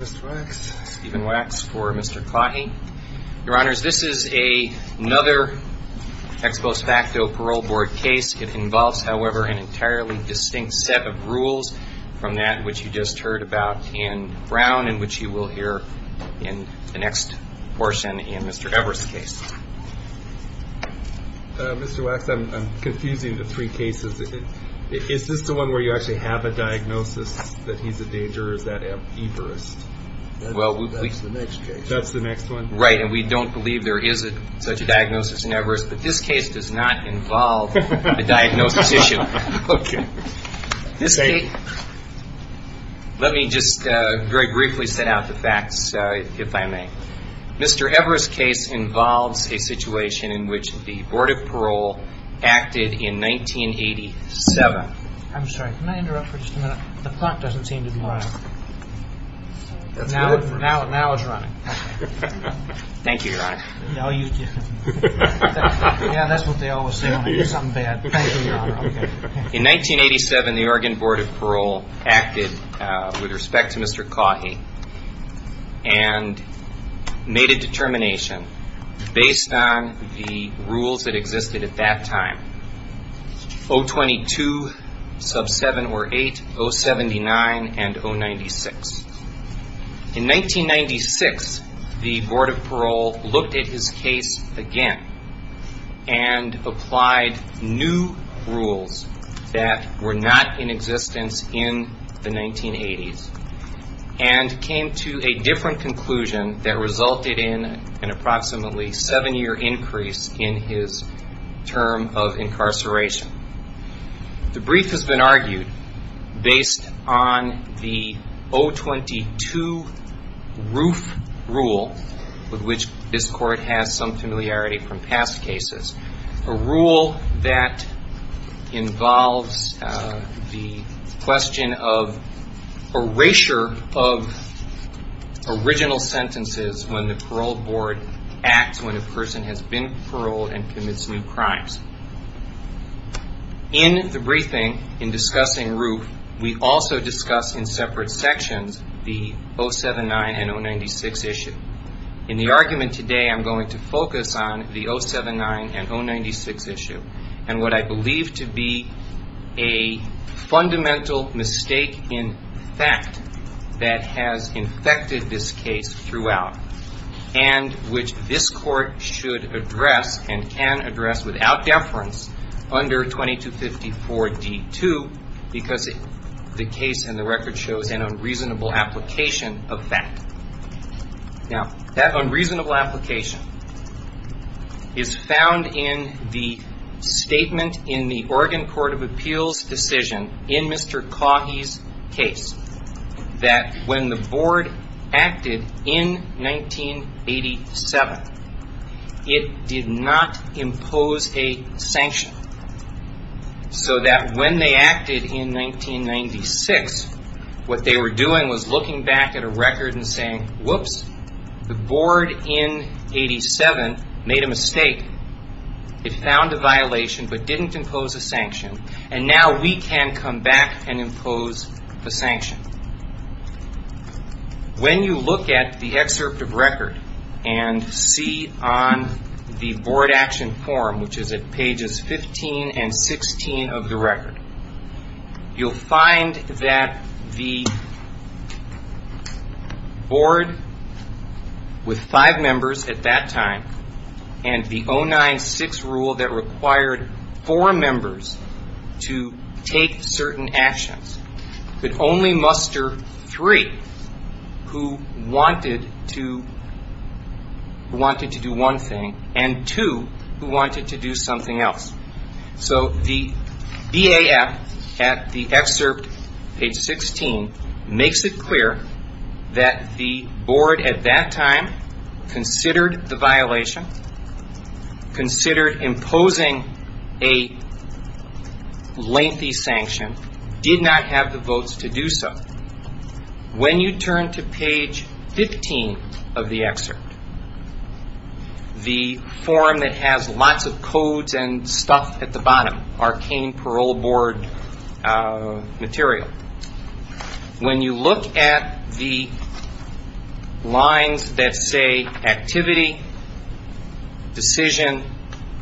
Stephen Wax for Mr. Caughey. Your Honors, this is another ex post facto parole board case. It involves, however, an entirely distinct set of rules from that which you just heard about in Brown and which you will hear in the next portion in Mr. Evers' case. Mr. Wax, I'm confusing the three cases. Is this the one where you actually have a diagnosis that he's a danger or is that Evers? That's the next case. That's the next one? Right, and we don't believe there is such a diagnosis in Evers, but this case does not involve a diagnosis issue. Okay. Let me just very briefly set out the facts, if I may. Mr. Evers' case involves a situation in which the Board of Parole acted in 1987. I'm sorry, can I interrupt for just a minute? The clock doesn't seem to be running. That's good. Now it's running. Thank you, Your Honor. Yeah, that's what they always say when there's something bad. Thank you, Your Honor. In 1987, the Oregon Board of Parole acted with respect to Mr. Caughey and made a determination based on the rules that existed at that time, 022, sub 7 or 8, 079, and 096. In 1996, the Board of Parole looked at his case again and applied new rules that were not in existence in the 1980s and came to a different conclusion that resulted in an approximately seven-year increase in his term of incarceration. The brief has been argued based on the 022 roof rule with which this court has some familiarity from past cases, a rule that involves the question of erasure of original sentences when the parole board acts when a person has been paroled and commits new crimes. In the briefing, in discussing roof, we also discuss in separate sections the 079 and 096 issue. In the argument today, I'm going to focus on the 079 and 096 issue and what I believe to be a fundamental mistake in fact that has infected this case throughout and which this court should address and can address without deference under 2254 D2 because the case in the record shows an unreasonable application of fact. Now, that unreasonable application is found in the statement in the Oregon Court of Appeals decision in Mr. Caughey's case that when the board acted in 1987, it did not impose a sanction so that when they acted in 1996, what they were doing was looking back at a record and saying, whoops, the board in 1987 made a mistake. It found a violation but didn't impose a sanction and now we can come back and impose the sanction. When you look at the excerpt of record and see on the board action form, which is at pages 15 and 16 of the record, you'll find that the board with five members at that time and the 096 rule that required four members to take certain actions, could only muster three who wanted to do one thing and two who wanted to do something else. So the BAF at the excerpt, page 16, makes it clear that the board at that time considered the violation, considered imposing a lengthy sanction, did not have the votes to do so. When you turn to page 15 of the excerpt, the form that has lots of codes and stuff at the bottom, arcane parole board material, when you look at the lines that say activity, decision,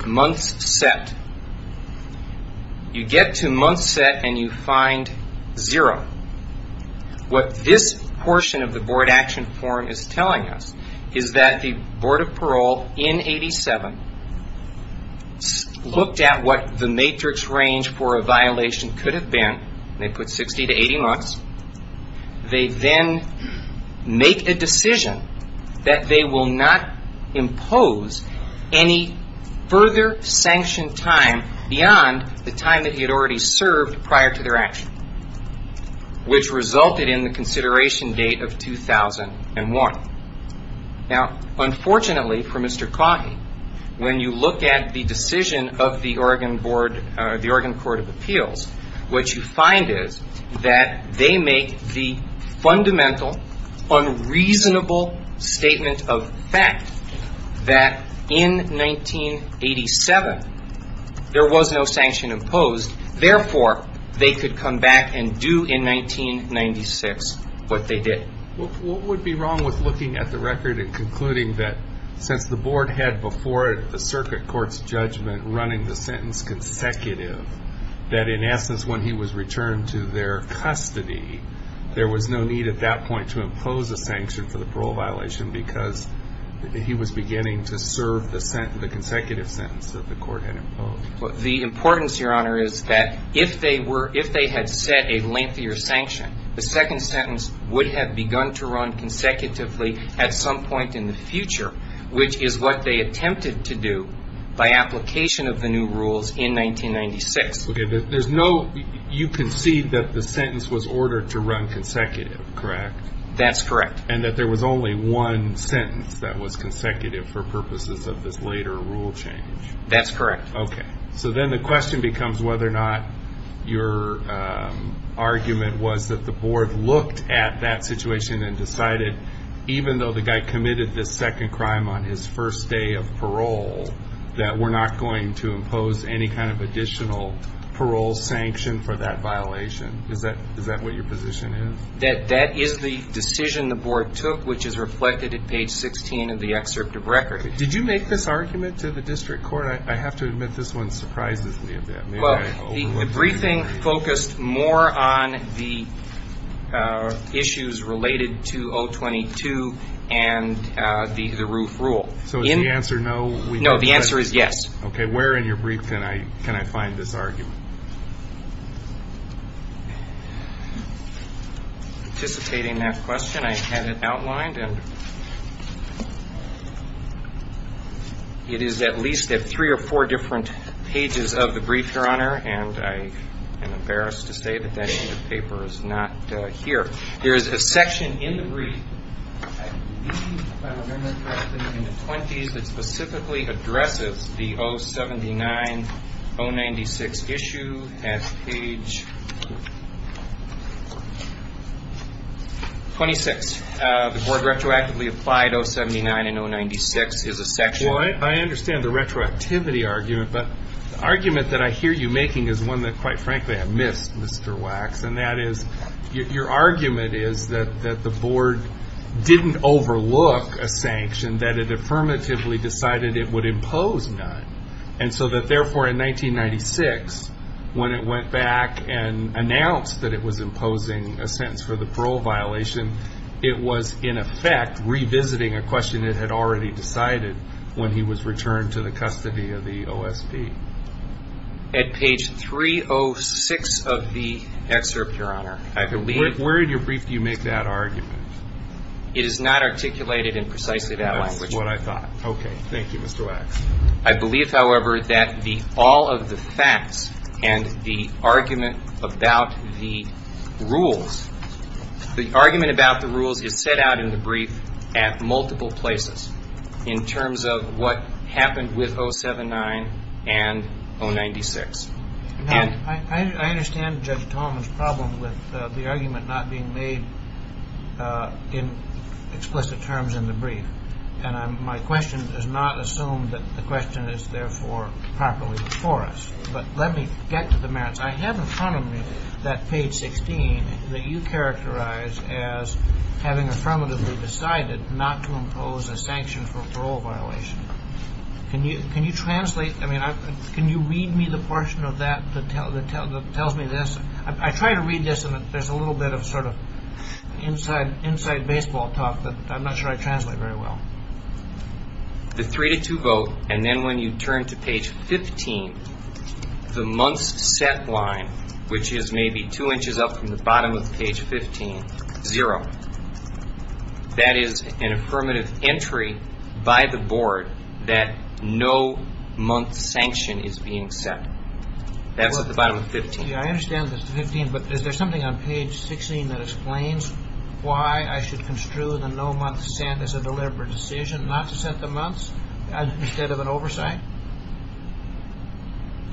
months set, you get to months set and you find zero. What this portion of the board action form is telling us is that the board of parole in 1987 looked at what the matrix range for a violation could have been. They put 60 to 80 months. They then make a decision that they will not impose any further sanction time beyond the time that he had already served prior to their action, which resulted in the consideration date of 2001. Now, unfortunately for Mr. Coggy, when you look at the decision of the Oregon Board, the Oregon Court of Appeals, what you find is that they make the fundamental, unreasonable statement of fact that in 1987 there was no sanction imposed, therefore, they could come back and do in 1996 what they did. What would be wrong with looking at the record and concluding that since the board had before it the circuit court's judgment running the sentence consecutive, that in essence when he was returned to their custody, there was no need at that point to impose a sanction for the parole violation because he was beginning to serve the consecutive sentence that the court had imposed? The importance, Your Honor, is that if they had set a lengthier sanction, the second sentence would have begun to run consecutively at some point in the future, which is what they attempted to do by application of the new rules in 1996. Okay, but there's no, you concede that the sentence was ordered to run consecutive, correct? That's correct. And that there was only one sentence that was consecutive for purposes of this later rule change? That's correct. Okay, so then the question becomes whether or not your argument was that the board looked at that situation and decided, even though the guy committed this second crime on his first day of parole, that we're not going to impose any kind of additional parole sanction for that violation. Is that what your position is? That is the decision the board took, which is reflected at page 16 of the excerpt of record. Did you make this argument to the district court? I have to admit this one surprises me a bit. Well, the briefing focused more on the issues related to 022 and the roof rule. So is the answer no? No, the answer is yes. Participating in that question, I had it outlined, and it is at least at three or four different pages of the brief, Your Honor, and I am embarrassed to say that that paper is not here. There is a section in the brief, I believe, if I remember correctly, in the 20s, that specifically addresses the 079, 096 issue at page 26. The board retroactively applied 079 and 096 as a section. I understand the retroactivity argument, but the argument that I hear you making is one that, quite frankly, I missed, Mr. Wax, and that is your argument is that the board didn't overlook a sanction, that it affirmatively decided it would impose none. And so that, therefore, in 1996, when it went back and announced that it was imposing a sentence for the parole violation, it was, in effect, revisiting a question it had already decided when he was returned to the custody of the OSB. At page 306 of the excerpt, Your Honor, I believe... Where in your brief do you make that argument? It is not articulated in precisely that language. That's what I thought. Okay. Thank you, Mr. Wax. I believe, however, that all of the facts and the argument about the rules, the argument about the rules is set out in the brief at multiple places in terms of what happened with 079 and 096. I understand Judge Tolman's problem with the argument not being made in explicit terms in the brief. And my question does not assume that the question is, therefore, properly before us. But let me get to the merits. I have in front of me that page 16 that you characterize as having affirmatively decided not to impose a sanction for parole violation. Can you translate? I mean, can you read me the portion of that that tells me this? I try to read this, and there's a little bit of sort of inside baseball talk that I'm not sure I translate very well. The three-to-two vote, and then when you turn to page 15, the month's set line, which is maybe two inches up from the bottom of page 15, zero. That is an affirmative entry by the board that no month sanction is being set. That's at the bottom of 15. I understand that's 15, but is there something on page 16 that explains why I should construe the no month sent as a deliberate decision not to set the months instead of an oversight?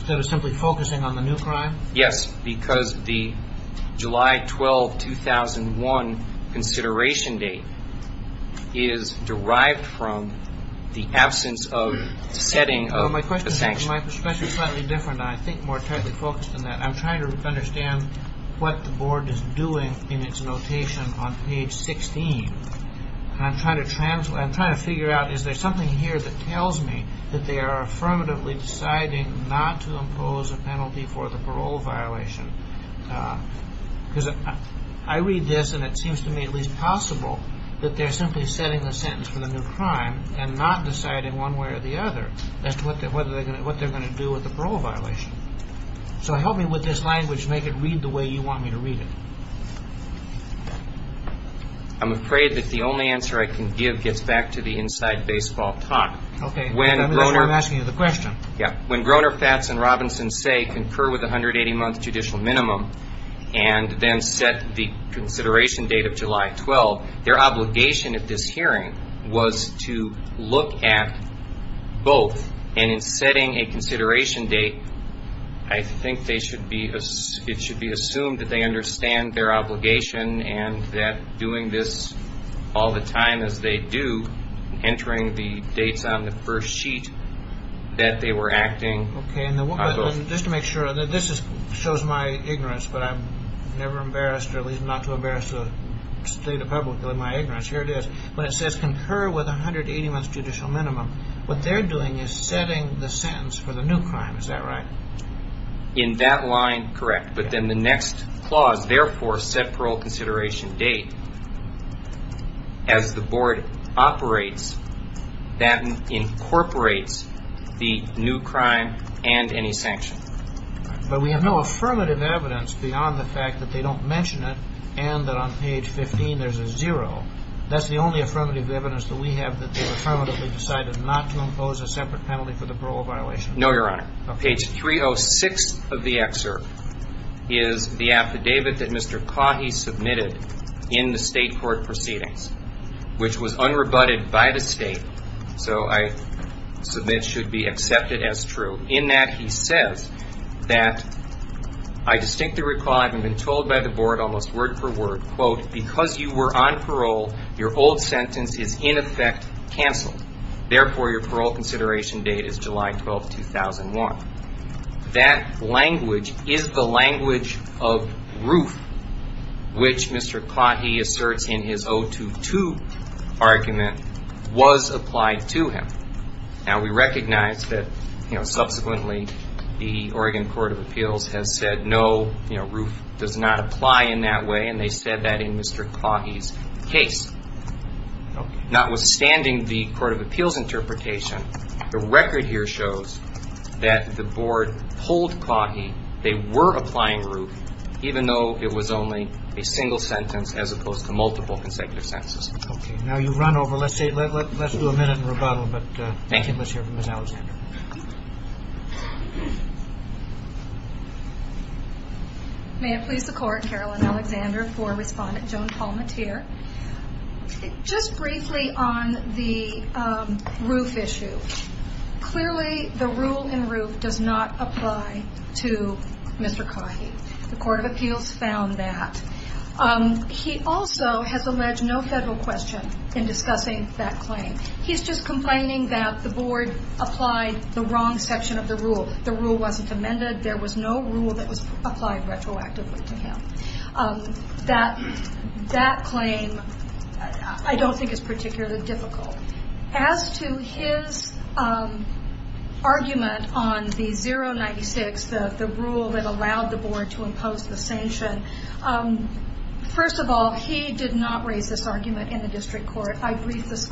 Instead of simply focusing on the new crime? Yes, because the July 12, 2001 consideration date is derived from the absence of setting of a sanction. My perspective is slightly different. I think more tightly focused on that. I'm trying to understand what the board is doing in its notation on page 16, and I'm trying to figure out, is there something here that tells me that they are affirmatively deciding not to impose a penalty for the parole violation? Because I read this, and it seems to me at least possible that they're simply setting the sentence for the new crime and not deciding one way or the other as to what they're going to do with the parole violation. So help me with this language. Make it read the way you want me to read it. I'm afraid that the only answer I can give gets back to the inside baseball talk. Okay. Remember, that's why I'm asking you the question. Yeah. When Groener, Fats, and Robinson say, Concur with the 180-month judicial minimum and then set the consideration date of July 12, their obligation at this hearing was to look at both, and in setting a consideration date, I think it should be assumed that they understand their obligation and that doing this all the time as they do, entering the dates on the first sheet that they were acting. Okay. And just to make sure, this shows my ignorance, but I'm never embarrassed, or at least not too embarrassed to state it publicly, my ignorance. Here it is. When it says, Concur with the 180-month judicial minimum, what they're doing is setting the sentence for the new crime. Is that right? In that line, correct. But then the next clause, therefore, set parole consideration date. As the board operates, that incorporates the new crime and any sanction. But we have no affirmative evidence beyond the fact that they don't mention it and that on page 15 there's a zero. That's the only affirmative evidence that we have that they've affirmatively decided not to impose a separate penalty for the parole violation. No, Your Honor. Okay. Page 306 of the excerpt is the affidavit that Mr. Caughey submitted in the state court proceedings, which was unrebutted by the state, so I submit should be accepted as true, in that he says that, I distinctly recall, I've been told by the board almost word for word, quote, because you were on parole, your old sentence is in effect canceled. Therefore, your parole consideration date is July 12, 2001. That language is the language of ROOF, which Mr. Caughey asserts in his 022 argument, was applied to him. Now, we recognize that, you know, subsequently the Oregon Court of Appeals has said no, you know, ROOF does not apply in that way, and they said that in Mr. Caughey's case. Notwithstanding the Court of Appeals interpretation, the record here shows that the board pulled Caughey. They were applying ROOF, even though it was only a single sentence as opposed to multiple consecutive sentences. Okay. Now you've run over. Let's do a minute of rebuttal. Thank you. Let's hear from Ms. Alexander. May it please the Court, Carolyn Alexander for Respondent Joan Palmatier. Just briefly on the ROOF issue, clearly the rule in ROOF does not apply to Mr. Caughey. The Court of Appeals found that. He also has alleged no federal question in discussing that claim. He's just complaining that the board applied the wrong section of the rule. The rule wasn't amended. There was no rule that was applied retroactively to him. That claim I don't think is particularly difficult. As to his argument on the 096, the rule that allowed the board to impose the sanction, first of all, he did not raise this argument in the district court. I briefed this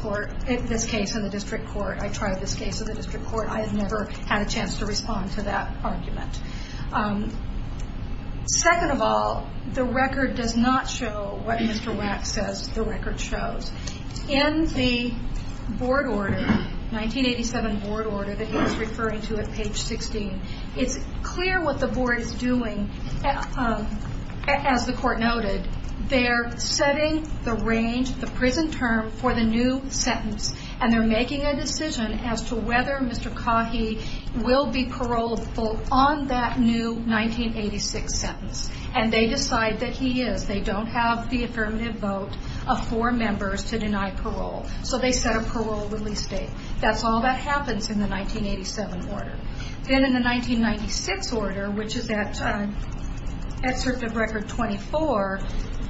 case in the district court. I tried this case in the district court. I have never had a chance to respond to that argument. Second of all, the record does not show what Mr. Wack says the record shows. In the 1987 board order that he was referring to at page 16, it's clear what the board is doing, as the Court noted. They're setting the prison term for the new sentence, and they're making a decision as to whether Mr. Caughey will be paroled on that new 1986 sentence. And they decide that he is. They don't have the affirmative vote of four members to deny parole. So they set a parole release date. That's all that happens in the 1987 order. Then in the 1996 order, which is that excerpt of Record 24,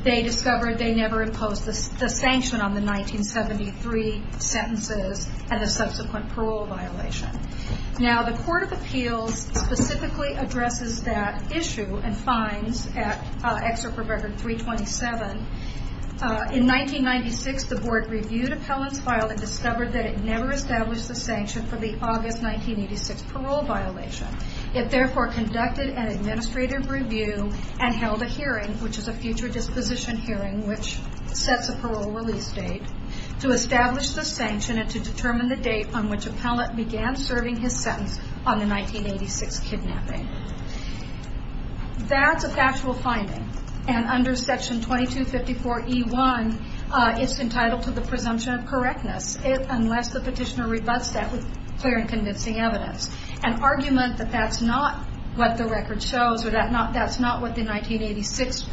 they discovered they never imposed the sanction on the 1973 sentences and the subsequent parole violation. Now, the Court of Appeals specifically addresses that issue and finds, at excerpt from Record 327, In 1996, the board reviewed Appellant's file and discovered that it never established the sanction for the August 1986 parole violation. It therefore conducted an administrative review and held a hearing, which is a future disposition hearing, which sets a parole release date, to establish the sanction and to determine the date on which Appellant began serving his sentence on the 1986 kidnapping. That's a factual finding. And under Section 2254E1, it's entitled to the presumption of correctness, unless the petitioner rebuts that with clear and convincing evidence. An argument that that's not what the record shows or that's not what the 1986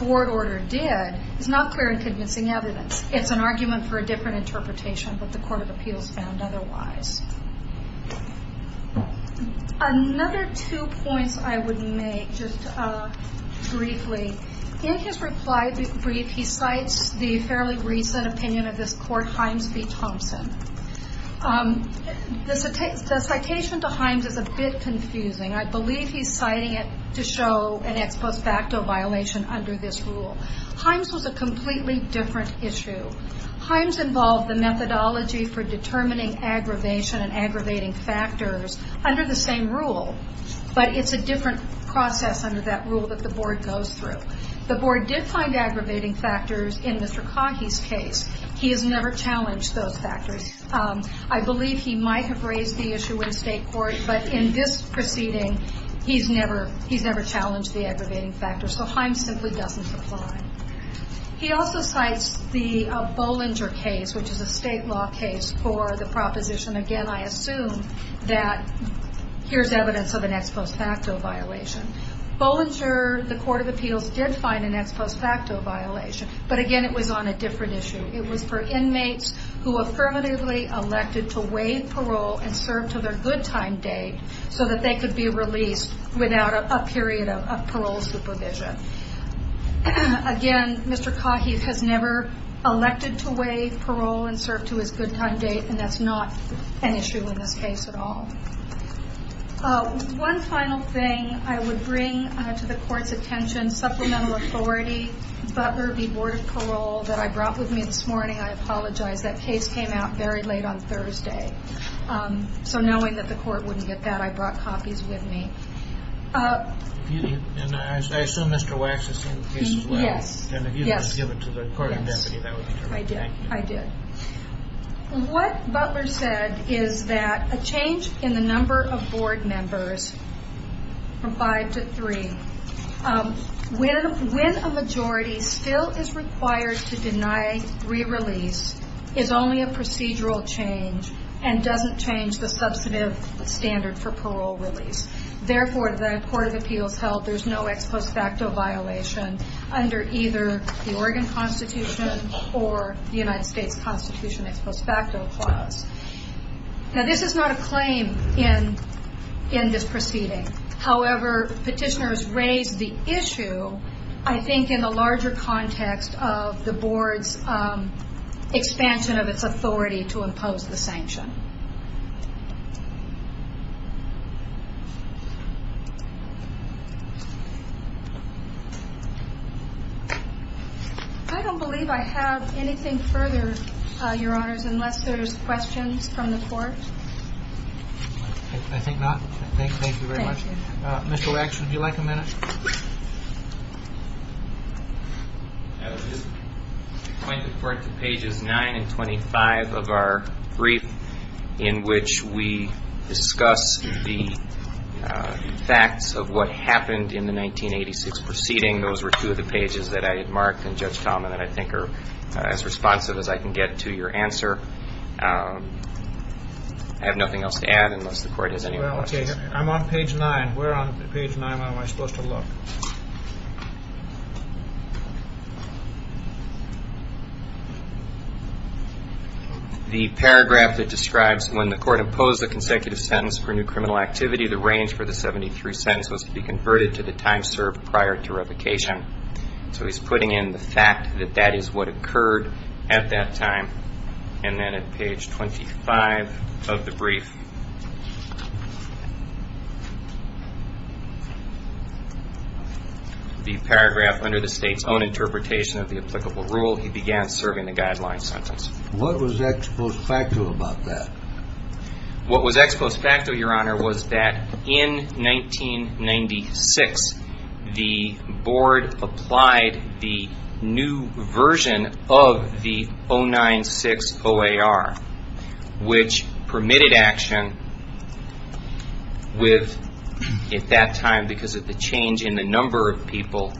board order did is not clear and convincing evidence. It's an argument for a different interpretation than what the Court of Appeals found otherwise. Another two points I would make, just briefly. In his reply brief, he cites the fairly recent opinion of this court, Himes v. Thompson. The citation to Himes is a bit confusing. I believe he's citing it to show an ex post facto violation under this rule. Himes was a completely different issue. Himes involved the methodology for determining aggravation and aggravating factors under the same rule, but it's a different process under that rule that the board goes through. The board did find aggravating factors in Mr. Cahie's case. He has never challenged those factors. I believe he might have raised the issue in state court, but in this proceeding he's never challenged the aggravating factors, so Himes simply doesn't apply. He also cites the Bollinger case, which is a state law case for the proposition, again I assume, that here's evidence of an ex post facto violation. Bollinger, the Court of Appeals did find an ex post facto violation, but again it was on a different issue. It was for inmates who affirmatively elected to waive parole and serve to their good time date, so that they could be released without a period of parole supervision. Again, Mr. Cahie has never elected to waive parole and serve to his good time date, and that's not an issue in this case at all. One final thing I would bring to the Court's attention, supplemental authority, Butler v. Board of Parole, that I brought with me this morning. I apologize, that case came out very late on Thursday. So knowing that the Court wouldn't get that, I brought copies with me. I assume Mr. Wax has seen the case as well? Yes. And if you could just give it to the Court of Deputy, that would be terrific. I did. What Butler said is that a change in the number of board members, from five to three, when a majority still is required to deny re-release, is only a procedural change and doesn't change the substantive standard for parole release. Therefore, the Court of Appeals held there's no ex post facto violation under either the Oregon Constitution or the United States Constitution ex post facto clause. Now this is not a claim in this proceeding. However, petitioners raised the issue, I think, in the larger context of the Board's expansion of its authority to impose the sanction. I don't believe I have anything further, Your Honors, unless there's questions from the Court. I think not. Thank you very much. Thank you. Mr. Wax, would you like a minute? I would just point the Court to pages 9 and 25 of our brief in which we discuss the issues that we're discussing. The facts of what happened in the 1986 proceeding, those were two of the pages that I had marked, and Judge Talman and I think are as responsive as I can get to your answer. I have nothing else to add unless the Court has any more questions. I'm on page 9. Where on page 9 am I supposed to look? The paragraph that describes when the Court imposed a consecutive sentence for new criminal activity, the range for the 73 sentence was to be converted to the time served prior to revocation. So he's putting in the fact that that is what occurred at that time. And then at page 25 of the brief, the paragraph under the State's own interpretation of the applicable rule, he began serving the guideline sentence. What was ex post facto about that? What was ex post facto, Your Honor, was that in 1996, the Board applied the new version of the 096 OAR, which permitted action with, at that time, because of the change in the number of people,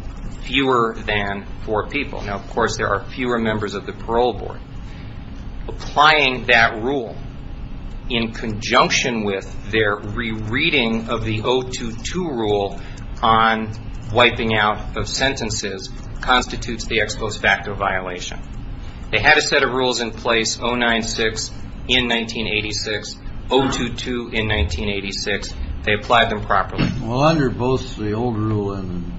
fewer than four people. Now, of course, there are fewer members of the parole board. Applying that rule in conjunction with their rereading of the 022 rule on wiping out of sentences constitutes the ex post facto violation. They had a set of rules in place, 096 in 1986, 022 in 1986. They applied them properly. Well, under both the old rule and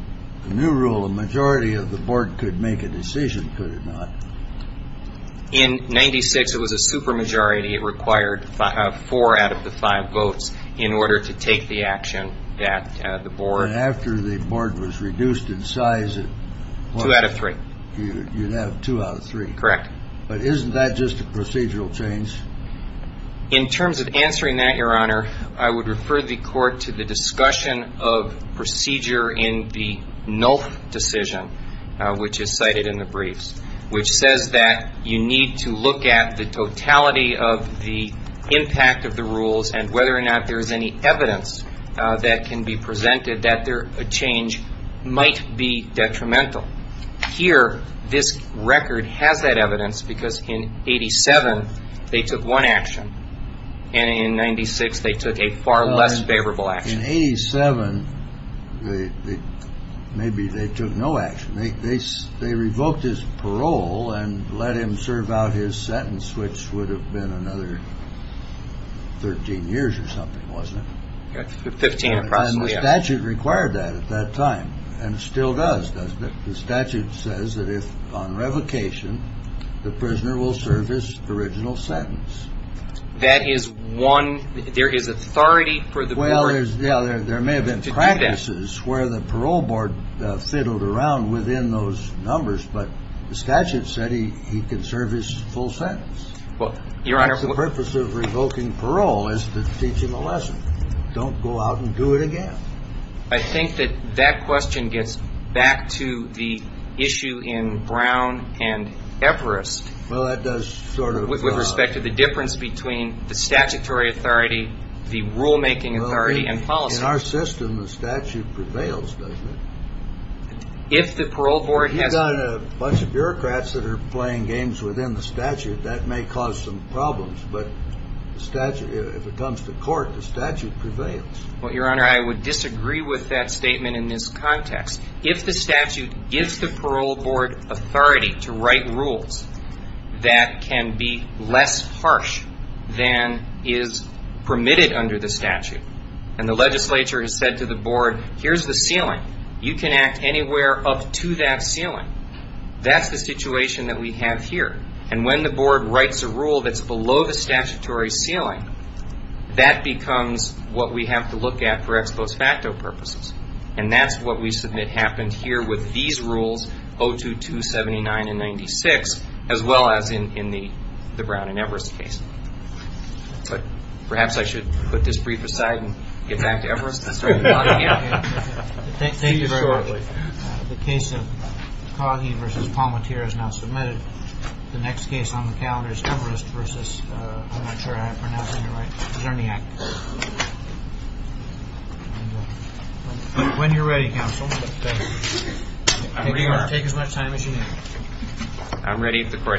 the new rule, a majority of the Board could make a decision, could it not? In 96, it was a super majority. It required four out of the five votes in order to take the action that the Board. And after the Board was reduced in size at what? Two out of three. You'd have two out of three. Correct. But isn't that just a procedural change? In terms of answering that, Your Honor, I would refer the Court to the discussion of procedure in the NULF decision, which is cited in the briefs, which says that you need to look at the totality of the impact of the rules and whether or not there is any evidence that can be presented that a change might be detrimental. Here, this record has that evidence because in 87, they took one action, and in 96, they took a far less favorable action. In 87, maybe they took no action. They revoked his parole and let him serve out his sentence, which would have been another 13 years or something, wasn't it? Fifteen, approximately. And the statute required that at that time, and still does, doesn't it? The statute says that if on revocation, the prisoner will serve his original sentence. That is one. There is authority for the court to do that. Well, there may have been practices where the parole board fiddled around within those numbers, but the statute said he could serve his full sentence. Well, Your Honor. That's the purpose of revoking parole is to teach him a lesson. Don't go out and do it again. I think that that question gets back to the issue in Brown and Everest. Well, that does sort of. With respect to the difference between the statutory authority, the rulemaking authority, and policy. In our system, the statute prevails, doesn't it? If the parole board has... If you've got a bunch of bureaucrats that are playing games within the statute, that may cause some problems. But if it comes to court, the statute prevails. Well, Your Honor, I would disagree with that statement in this context. If the statute gives the parole board authority to write rules that can be less harsh than is permitted under the statute, and the legislature has said to the board, here's the ceiling. You can act anywhere up to that ceiling. That's the situation that we have here. And when the board writes a rule that's below the statutory ceiling, that becomes what we have to look at for ex post facto purposes. And that's what we submit happened here with these rules, 02279 and 96, as well as in the Brown and Everest case. But perhaps I should put this brief aside and get back to Everest. Thank you very much. The case of Coggy v. Palmatier is now submitted. The next case on the calendar is Everest v. Czerniak. When you're ready, counsel. Take as much time as you need. I'm ready if the court agrees.